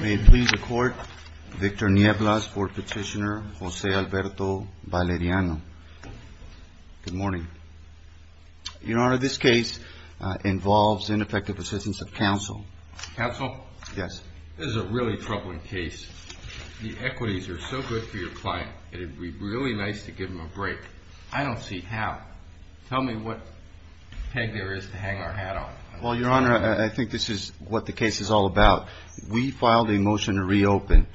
May it please the Court, Victor Nieblas, Board Petitioner, Jose Alberto Valeriano. Good morning. Your Honor, this case involves ineffective assistance of counsel. Counsel? Yes. This is a really troubling case. The equities are so good for your client, it would be really nice to give him a break. I don't see how. Tell me what peg there is to hang our hat on. Well, Your Honor, I think this is what the case is all about. We filed a motion to reopen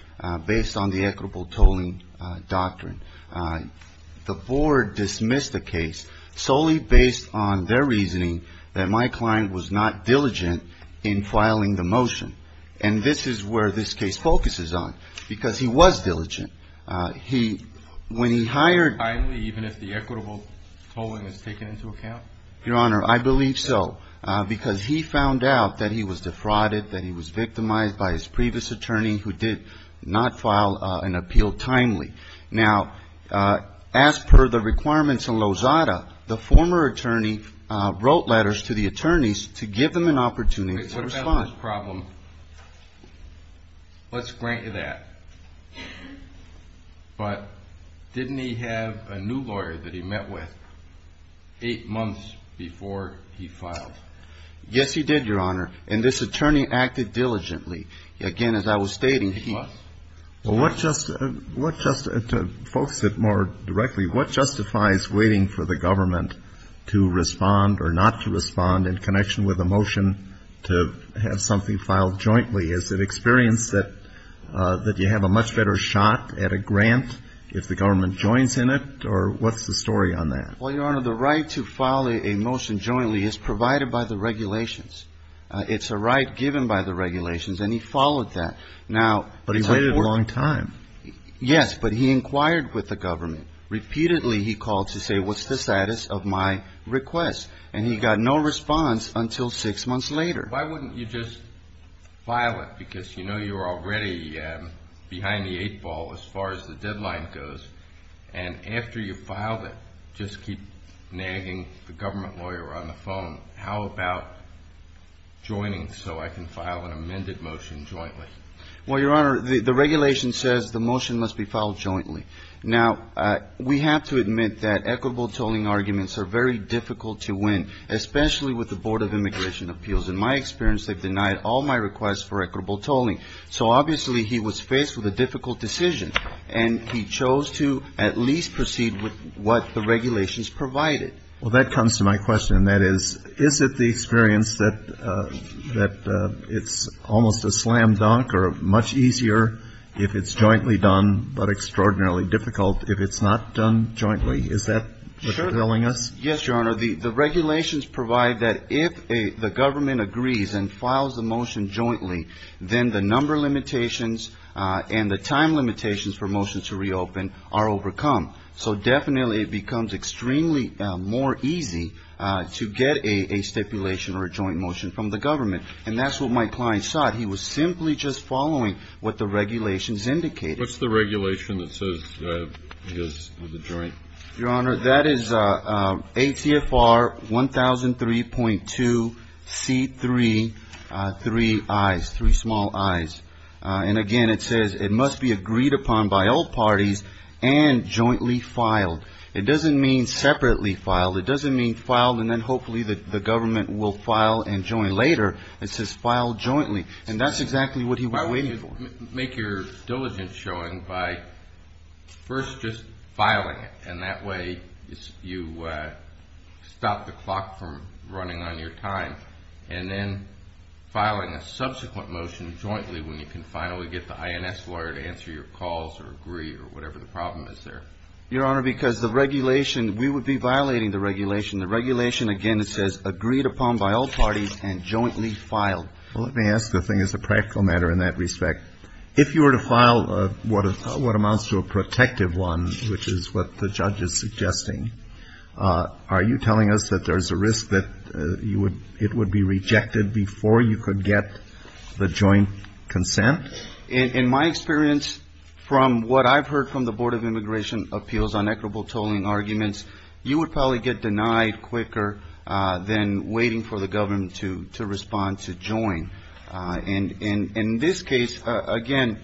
based on the equitable tolling doctrine. The Board dismissed the case solely based on their reasoning that my client was not diligent in filing the motion. And this is where this case focuses on, because he was diligent. When he hired Finally, even if the equitable tolling is taken into account? Your Honor, I believe so, because he found out that he was defrauded, that he was victimized by his previous attorney who did not file an appeal timely. Now, as per the requirements in Lozada, the former attorney wrote letters to the attorneys to give them an opportunity to respond. Your Honor, let's grant you that, but didn't he have a new lawyer that he met with eight months before he filed? Yes, he did, Your Honor. And this attorney acted diligently. Again, as I was stating, he was. Well, what just to focus it more directly, what justifies waiting for the government to respond or not to respond in connection with a motion to have something filed jointly? Is it experience that you have a much better shot at a grant if the government joins in it, or what's the story on that? Well, Your Honor, the right to file a motion jointly is provided by the regulations. It's a right given by the regulations, and he followed that. But he waited a long time. Repeatedly he called to say, what's the status of my request? And he got no response until six months later. Why wouldn't you just file it? Because you know you're already behind the eight ball as far as the deadline goes. And after you filed it, just keep nagging the government lawyer on the phone. How about joining so I can file an amended motion jointly? Well, Your Honor, the regulation says the motion must be filed jointly. Now, we have to admit that equitable tolling arguments are very difficult to win, especially with the Board of Immigration Appeals. In my experience, they've denied all my requests for equitable tolling. So obviously he was faced with a difficult decision, and he chose to at least proceed with what the regulations provided. Well, that comes to my question. That is, is it the experience that it's almost a slam dunk or much easier if it's jointly done but extraordinarily difficult if it's not done jointly? Is that what you're telling us? Yes, Your Honor. The regulations provide that if the government agrees and files a motion jointly, then the number limitations and the time limitations for motions to reopen are overcome. So definitely it becomes extremely more easy to get a stipulation or a joint motion from the government. And that's what my client sought. He was simply just following what the regulations indicated. What's the regulation that says it goes with a joint? Your Honor, that is ATFR 1003.2C3, three I's, three small I's. And again, it says it must be agreed upon by all parties and jointly filed. It doesn't mean separately filed. It doesn't mean filed and then hopefully the government will file and join later. It says filed jointly. And that's exactly what he was waiting for. Make your diligence showing by first just filing it, and that way you stop the clock from running on your time. And then filing a subsequent motion jointly when you can finally get the INS lawyer to answer your calls or agree or whatever the problem is there. Your Honor, because the regulation, we would be violating the regulation. The regulation, again, it says agreed upon by all parties and jointly filed. Well, let me ask the thing as a practical matter in that respect. If you were to file what amounts to a protective one, which is what the judge is suggesting, are you telling us that there's a risk that it would be rejected before you could get the joint consent? In my experience, from what I've heard from the Board of Immigration Appeals on equitable tolling arguments, you would probably get denied quicker than waiting for the government to respond to join. And in this case, again,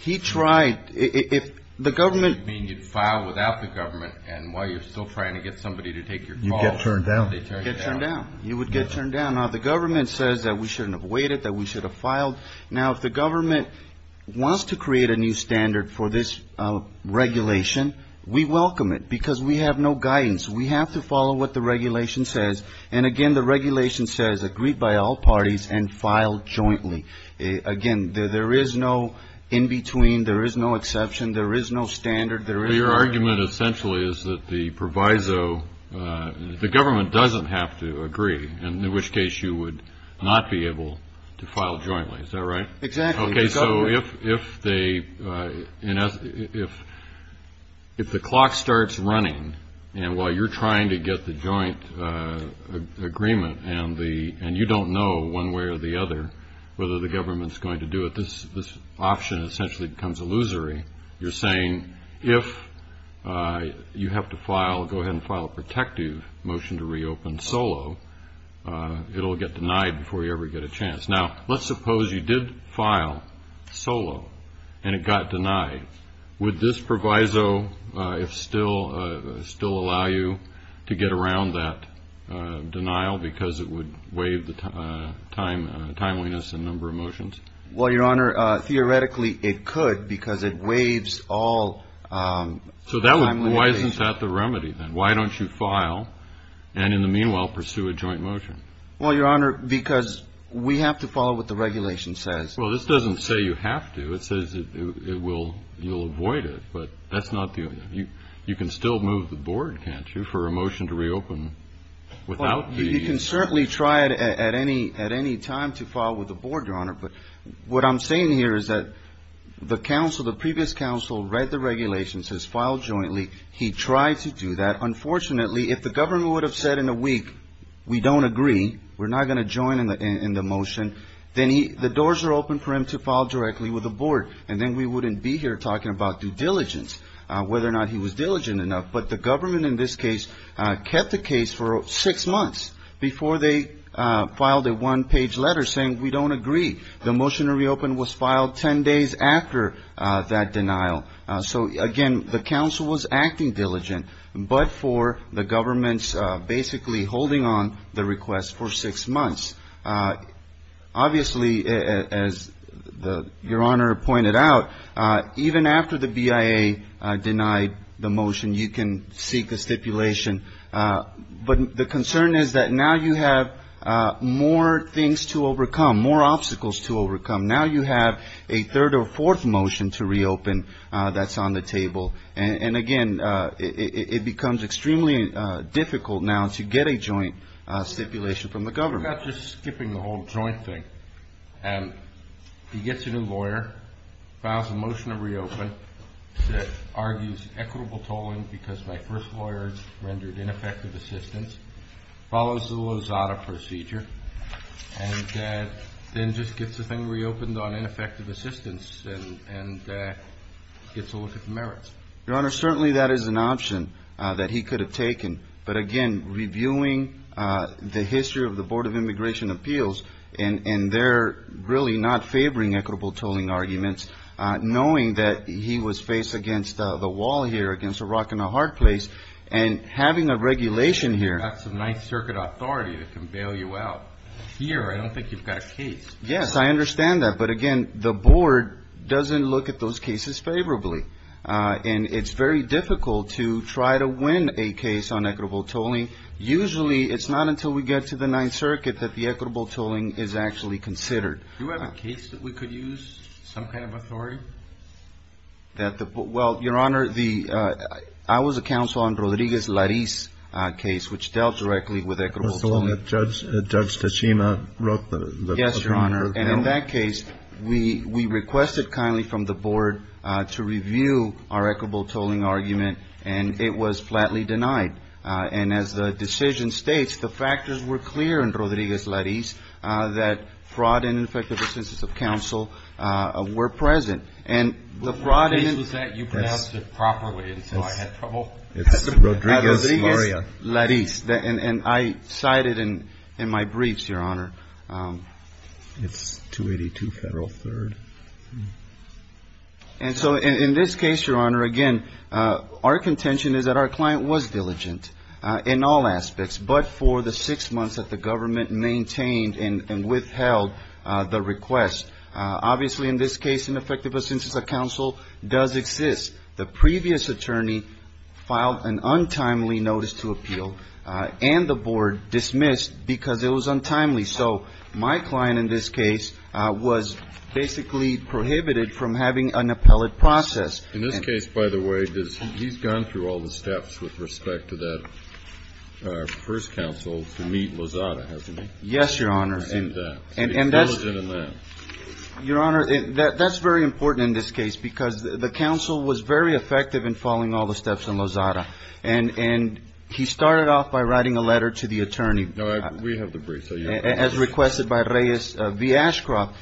he tried, if the government. You mean you'd file without the government and while you're still trying to get somebody to take your calls. You'd get turned down. Get turned down. You would get turned down. Now, the government says that we shouldn't have waited, that we should have filed. Now, if the government wants to create a new standard for this regulation, we welcome it because we have no guidance. We have to follow what the regulation says. And again, the regulation says agreed by all parties and filed jointly. Again, there is no in between. There is no exception. There is no standard. Your argument essentially is that the government doesn't have to agree, in which case you would not be able to file jointly. Is that right? Exactly. Okay, so if the clock starts running and while you're trying to get the joint agreement and you don't know one way or the other whether the government is going to do it, this option essentially becomes illusory. You're saying if you have to file, go ahead and file a protective motion to reopen solo, it will get denied before you ever get a chance. Now, let's suppose you did file solo and it got denied. Would this proviso still allow you to get around that denial because it would waive the timeliness and number of motions? Well, Your Honor, theoretically it could because it waives all timeliness. So why isn't that the remedy then? Why don't you file and in the meanwhile pursue a joint motion? Well, Your Honor, because we have to follow what the regulation says. Well, this doesn't say you have to. It says you'll avoid it. But you can still move the board, can't you, for a motion to reopen without the ---- You can certainly try at any time to file with the board, Your Honor. But what I'm saying here is that the previous counsel read the regulation, says file jointly. He tried to do that. Unfortunately, if the government would have said in a week we don't agree, we're not going to join in the motion, then the doors are open for him to file directly with the board. And then we wouldn't be here talking about due diligence, whether or not he was diligent enough. But the government in this case kept the case for six months before they filed a one-page letter saying we don't agree. The motion to reopen was filed 10 days after that denial. So, again, the counsel was acting diligent. But for the government's basically holding on the request for six months, obviously, as Your Honor pointed out, even after the BIA denied the motion, you can seek a stipulation. But the concern is that now you have more things to overcome, more obstacles to overcome. Now you have a third or fourth motion to reopen that's on the table. And, again, it becomes extremely difficult now to get a joint stipulation from the government. I'm not just skipping the whole joint thing. He gets a new lawyer, files a motion to reopen, argues equitable tolling because my first lawyer rendered ineffective assistance, follows the Lozada procedure, and then just gets the thing reopened on ineffective assistance and gets a look at the merits. Your Honor, certainly that is an option that he could have taken. But, again, reviewing the history of the Board of Immigration Appeals and their really not favoring equitable tolling arguments, knowing that he was faced against the wall here, against a rock and a hard place, and having a regulation here. That's a Ninth Circuit authority that can bail you out. Here, I don't think you've got a case. Yes, I understand that. But, again, the Board doesn't look at those cases favorably. And it's very difficult to try to win a case on equitable tolling. Usually it's not until we get to the Ninth Circuit that the equitable tolling is actually considered. Do you have a case that we could use, some kind of authority? Well, Your Honor, I was a counsel on Rodriguez-Lariz's case, which dealt directly with equitable tolling. Mr. Long, Judge Tachima wrote the claim. Yes, Your Honor. And in that case, we requested kindly from the Board to review our equitable tolling argument, and it was flatly denied. And as the decision states, the factors were clear in Rodriguez-Lariz that fraud and ineffective assistance of counsel were present. The case was that you pronounced it properly, and so I had trouble. It's Rodriguez-Lariz. And I cited in my briefs, Your Honor. It's 282 Federal 3rd. And so in this case, Your Honor, again, our contention is that our client was diligent in all aspects, but for the six months that the government maintained and withheld the request. Obviously, in this case, ineffective assistance of counsel does exist. The previous attorney filed an untimely notice to appeal, and the Board dismissed because it was untimely. So my client in this case was basically prohibited from having an appellate process. In this case, by the way, he's gone through all the steps with respect to that first counsel to meet Lozada, hasn't he? Yes, Your Honor. And that's diligent in that. Your Honor, that's very important in this case because the counsel was very effective in following all the steps in Lozada. And he started off by writing a letter to the attorney. No, we have the briefs. As requested by Reyes v. Ashcroft.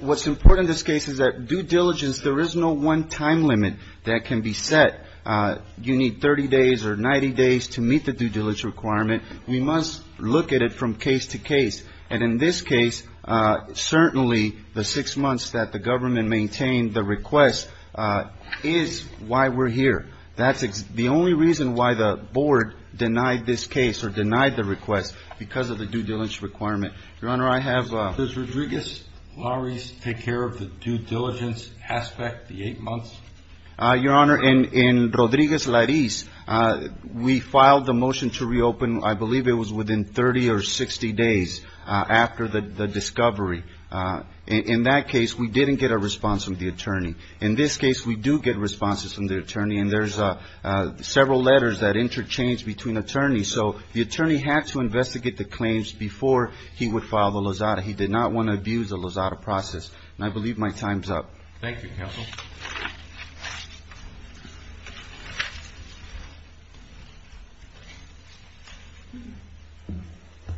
What's important in this case is that due diligence, there is no one time limit that can be set. You need 30 days or 90 days to meet the due diligence requirement. We must look at it from case to case. And in this case, certainly the six months that the government maintained the request is why we're here. That's the only reason why the Board denied this case or denied the request, because of the due diligence requirement. Your Honor, I have a question. Does Rodriguez-Lariz take care of the due diligence aspect, the eight months? Your Honor, in Rodriguez-Lariz, we filed the motion to reopen, I believe it was within 30 or 60 days after the discovery. In that case, we didn't get a response from the attorney. In this case, we do get responses from the attorney, and there's several letters that interchange between attorneys. So the attorney had to investigate the claims before he would file the Lozada. He did not want to abuse the Lozada process. And I believe my time's up. Thank you, Counsel.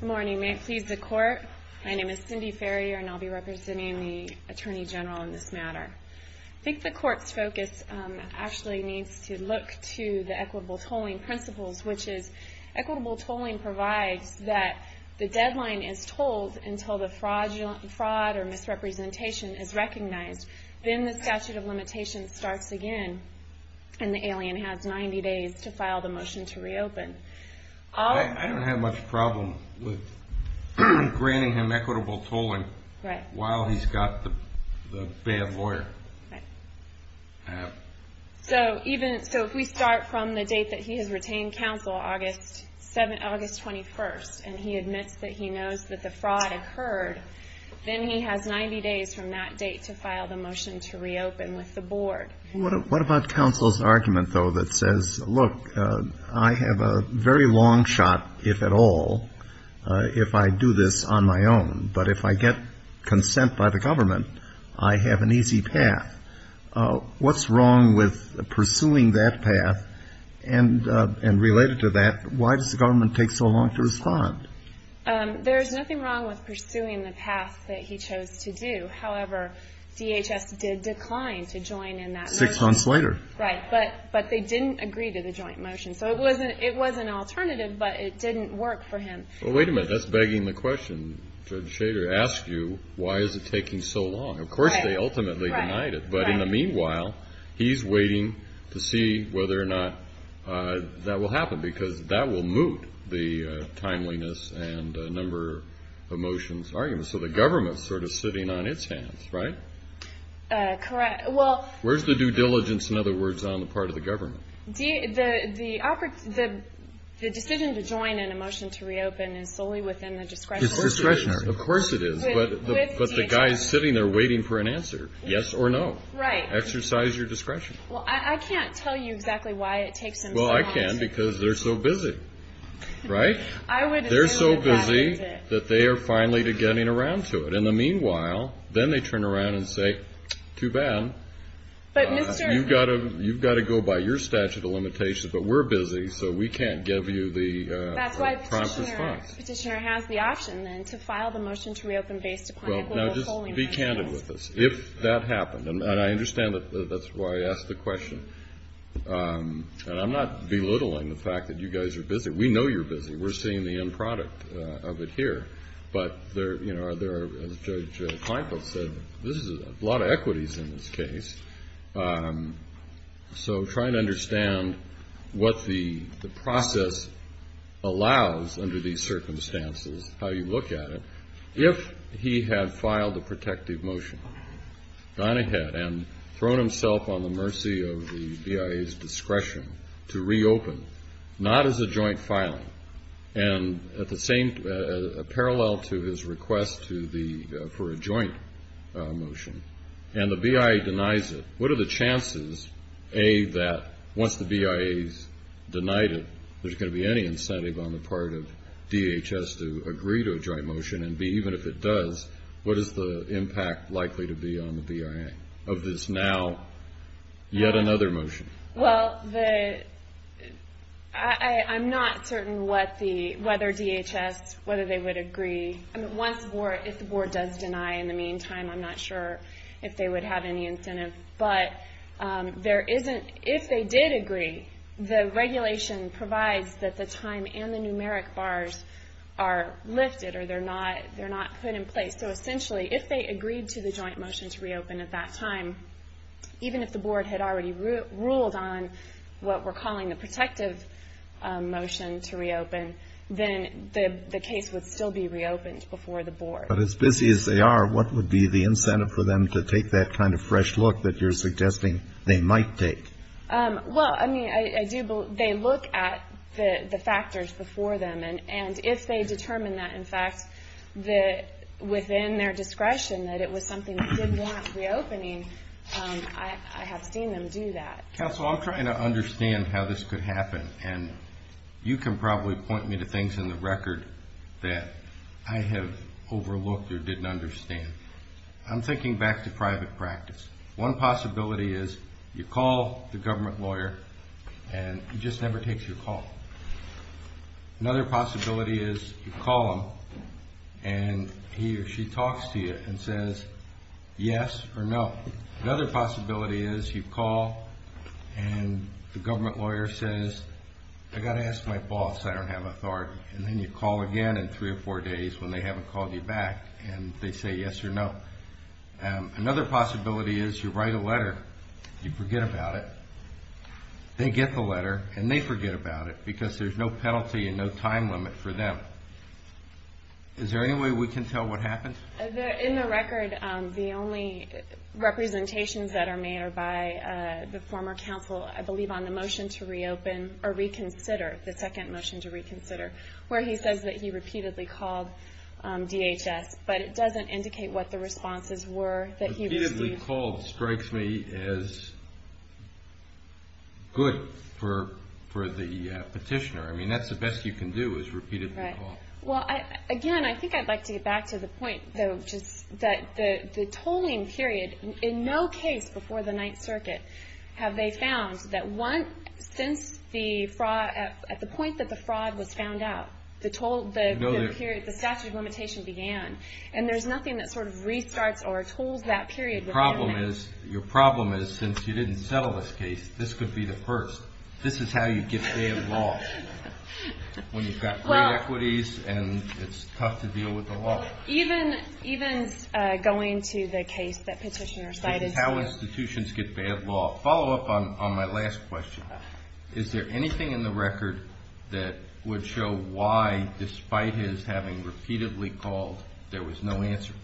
Good morning. May it please the Court? My name is Cindy Ferrier, and I'll be representing the Attorney General in this matter. I think the Court's focus actually needs to look to the equitable tolling principles, which is equitable tolling provides that the deadline is tolled until the fraud or misrepresentation is recognized. Then the statute of limitations starts again, and the alien has 90 days to file the motion to reopen. I don't have much problem with granting him equitable tolling while he's got the bad lawyer. So if we start from the date that he has retained counsel, August 21st, and he admits that he knows that the fraud occurred, then he has 90 days from that date to file the motion to reopen with the board. What about counsel's argument, though, that says, look, I have a very long shot, if at all, if I do this on my own, but if I get consent by the government, I have an easy path? What's wrong with pursuing that path? And related to that, why does the government take so long to respond? There's nothing wrong with pursuing the path that he chose to do. However, DHS did decline to join in that motion. Six months later. Right, but they didn't agree to the joint motion. So it was an alternative, but it didn't work for him. Well, wait a minute, that's begging the question. Judge Shader asked you, why is it taking so long? Of course they ultimately denied it. But in the meanwhile, he's waiting to see whether or not that will happen, because that will moot the timeliness and number of motions argument. So the government is sort of sitting on its hands, right? Correct. Where's the due diligence, in other words, on the part of the government? The decision to join in a motion to reopen is solely within the discretionary. It's discretionary. Of course it is. But the guy is sitting there waiting for an answer, yes or no. Right. Exercise your discretion. Well, I can't tell you exactly why it takes them so long. Well, I can, because they're so busy, right? They're so busy that they are finally getting around to it. In the meanwhile, then they turn around and say, too bad. You've got to go by your statute of limitations. But we're busy, so we can't give you the prompt response. That's why Petitioner has the option, then, to file the motion to reopen based upon the legal polling. Now, just be candid with us. If that happened, and I understand that's why I asked the question. And I'm not belittling the fact that you guys are busy. We know you're busy. We're seeing the end product of it here. But there are, as Judge Kleinfeld said, a lot of equities in this case. So try to understand what the process allows under these circumstances, how you look at it. If he had filed a protective motion, gone ahead and thrown himself on the mercy of the BIA's discretion to reopen, not as a joint filing, and at the same parallel to his request for a joint motion, and the BIA denies it, what are the chances, A, that once the BIA has denied it, there's going to be any incentive on the part of DHS to agree to a joint motion, and, B, even if it does, what is the impact likely to be on the BIA of this now yet another motion? Well, I'm not certain whether DHS, whether they would agree. If the Board does deny in the meantime, I'm not sure if they would have any incentive. But if they did agree, the regulation provides that the time and the numeric bars are lifted or they're not put in place. So essentially, if they agreed to the joint motion to reopen at that time, even if the Board had already ruled on what we're calling the protective motion to reopen, then the case would still be reopened before the Board. But as busy as they are, what would be the incentive for them to take that kind of fresh look that you're suggesting they might take? Well, I mean, I do believe they look at the factors before them, and if they determine that, in fact, within their discretion that it was something they didn't want reopening, I have seen them do that. Counsel, I'm trying to understand how this could happen, and you can probably point me to things in the record that I have overlooked or didn't understand. I'm thinking back to private practice. One possibility is you call the government lawyer, and he just never takes your call. Another possibility is you call him, and he or she talks to you and says yes or no. Another possibility is you call, and the government lawyer says, I've got to ask my boss, I don't have authority. And then you call again in three or four days when they haven't called you back, and they say yes or no. Another possibility is you write a letter, you forget about it. They get the letter, and they forget about it because there's no penalty and no time limit for them. Is there any way we can tell what happened? In the record, the only representations that are made are by the former counsel, I believe, on the motion to reopen or reconsider, the second motion to reconsider, where he says that he repeatedly called DHS, but it doesn't indicate what the responses were that he received. Repeatedly called strikes me as good for the petitioner. I mean, that's the best you can do is repeatedly call. Right. Well, again, I think I'd like to get back to the point, though, which is that the tolling period, in no case before the Ninth Circuit, have they found that at the point that the fraud was found out, the statute of limitation began. And there's nothing that sort of restarts or tolls that period. Your problem is, since you didn't settle this case, this could be the first. This is how you get bad law, when you've got great equities and it's tough to deal with the law. Even going to the case that petitioner cited. This is how institutions get bad law. Follow up on my last question. Is there anything in the record that would show why, despite his having repeatedly called, there was no answer?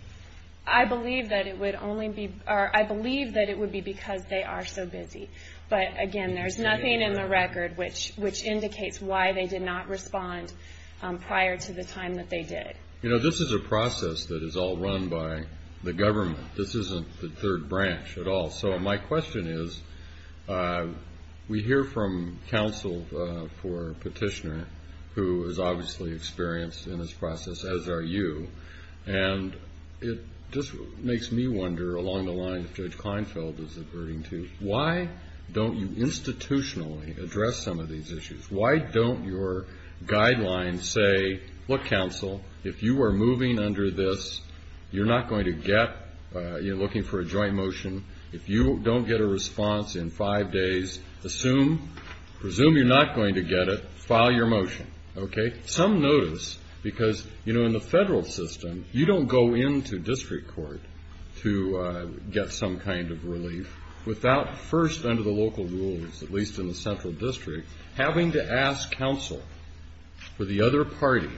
I believe that it would be because they are so busy. But, again, there's nothing in the record which indicates why they did not respond prior to the time that they did. You know, this is a process that is all run by the government. This isn't the third branch at all. So my question is, we hear from counsel for petitioner, who is obviously experienced in this process, as are you. And it just makes me wonder, along the lines of Judge Kleinfeld was averting to, why don't you institutionally address some of these issues? Why don't your guidelines say, look, counsel, if you are moving under this, you're not going to get, you're looking for a joint motion. If you don't get a response in five days, assume, presume you're not going to get it, file your motion. Okay? Some notice, because, you know, in the federal system, you don't go into district court to get some kind of relief without first, under the local rules, at least in the central district, having to ask counsel for the other party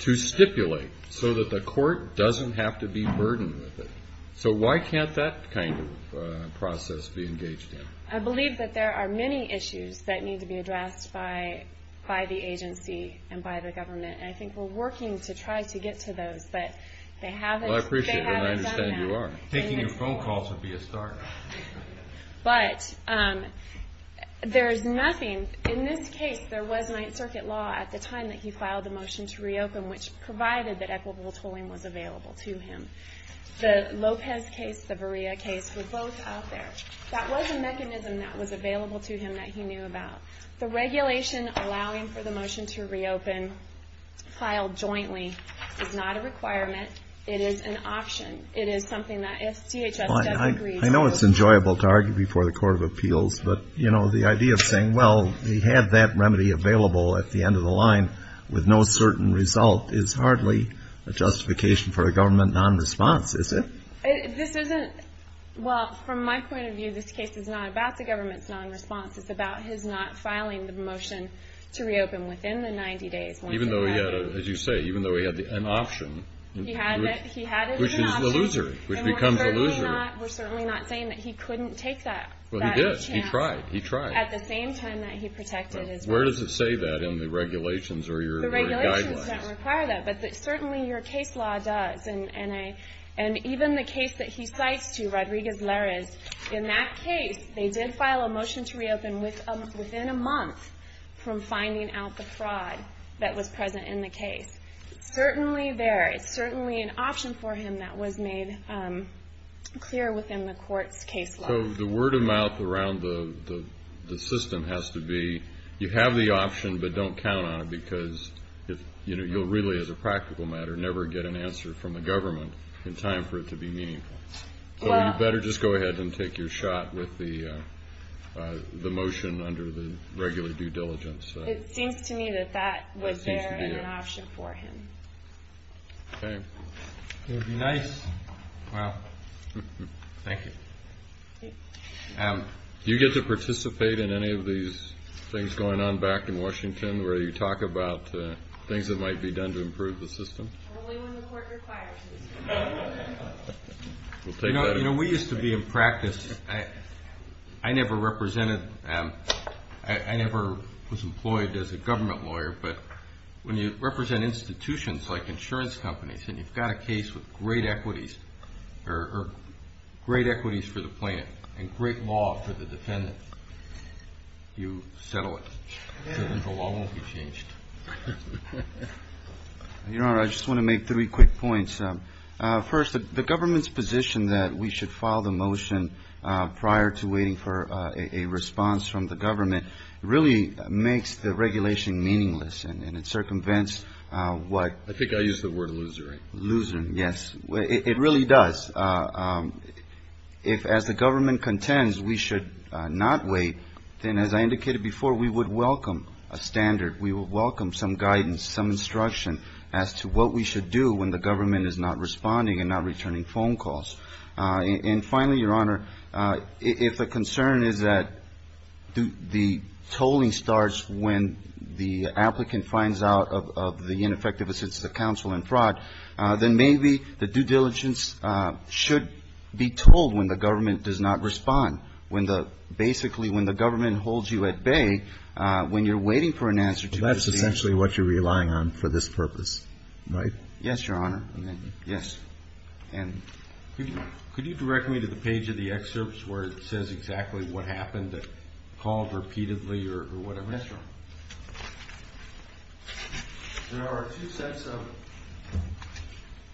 to stipulate so that the court doesn't have to be burdened with it. So why can't that kind of process be engaged in? I believe that there are many issues that need to be addressed by the agency and by the government, and I think we're working to try to get to those, but they haven't done that. Well, I appreciate that, and I understand you are. Taking your phone calls would be a start. But there is nothing, in this case, there was Ninth Circuit law at the time that he filed the motion to reopen, which provided that equitable tolling was available to him. The Lopez case, the Verrea case, were both out there. That was a mechanism that was available to him that he knew about. The regulation allowing for the motion to reopen, filed jointly, is not a requirement. It is an option. It is something that if CHS doesn't agree to reopen. I know it's enjoyable to argue before the Court of Appeals, but, you know, the idea of saying, well, we had that remedy available at the end of the line with no certain result, is hardly a justification for a government nonresponse, is it? This isn't. Well, from my point of view, this case is not about the government's nonresponse. It's about his not filing the motion to reopen within the 90 days. Even though he had, as you say, even though he had an option. He had it. He had it as an option. Which is illusory. Which becomes illusory. And we're certainly not saying that he couldn't take that chance. Well, he did. He tried. He tried. At the same time that he protected his right. Where does it say that in the regulations or your guidelines? Regulations don't require that. But certainly your case law does. And even the case that he cites, too, Rodriguez-Larez, in that case, they did file a motion to reopen within a month from finding out the fraud that was present in the case. Certainly there is certainly an option for him that was made clear within the court's case law. So the word of mouth around the system has to be, you have the option, but don't count on it because you'll really, as a practical matter, never get an answer from the government in time for it to be meaningful. So you better just go ahead and take your shot with the motion under the regular due diligence. It seems to me that that was there as an option for him. Okay. That would be nice. Wow. Thank you. Do you get to participate in any of these things going on back in Washington where you talk about things that might be done to improve the system? Only when the court requires it. You know, we used to be in practice, I never represented, I never was employed as a government lawyer, but when you represent institutions like insurance companies and you've got a case with great equities or great equities for the plaintiff and great law for the defendant, you settle it. The law won't be changed. Your Honor, I just want to make three quick points. First, the government's position that we should file the motion prior to waiting for a response from the government really makes the regulation meaningless and it circumvents what? I think I used the word loser, right? Loser, yes. It really does. If, as the government contends, we should not wait, then, as I indicated before, we would welcome a standard. We would welcome some guidance, some instruction as to what we should do when the government is not responding and not returning phone calls. And finally, Your Honor, if the concern is that the tolling starts when the applicant finds out of the ineffectiveness fraud, then maybe the due diligence should be told when the government does not respond. Basically, when the government holds you at bay, when you're waiting for an answer to your question. That's essentially what you're relying on for this purpose, right? Yes, Your Honor. Yes. And? Could you direct me to the page of the excerpts where it says exactly what happened, called repeatedly or whatever? Yes, Your Honor. There are two sets of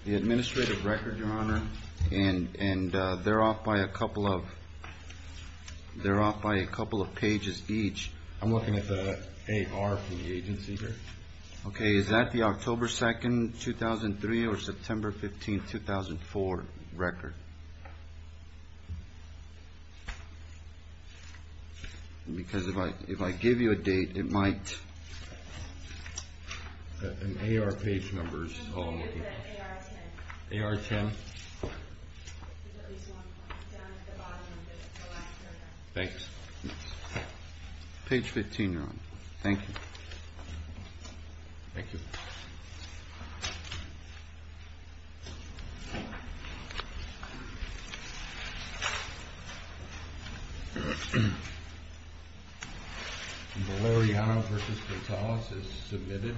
the administrative record, Your Honor, and they're off by a couple of pages each. I'm looking at the AR for the agency here. Okay. Is that the October 2nd, 2003 or September 15th, 2004 record? Because if I give you a date, it might – And AR page numbers. AR 10. AR 10. Down at the bottom of the last paragraph. Thanks. Page 15, Your Honor. Thank you. Thank you. Thank you. Valeriano v. Vitales is submitted.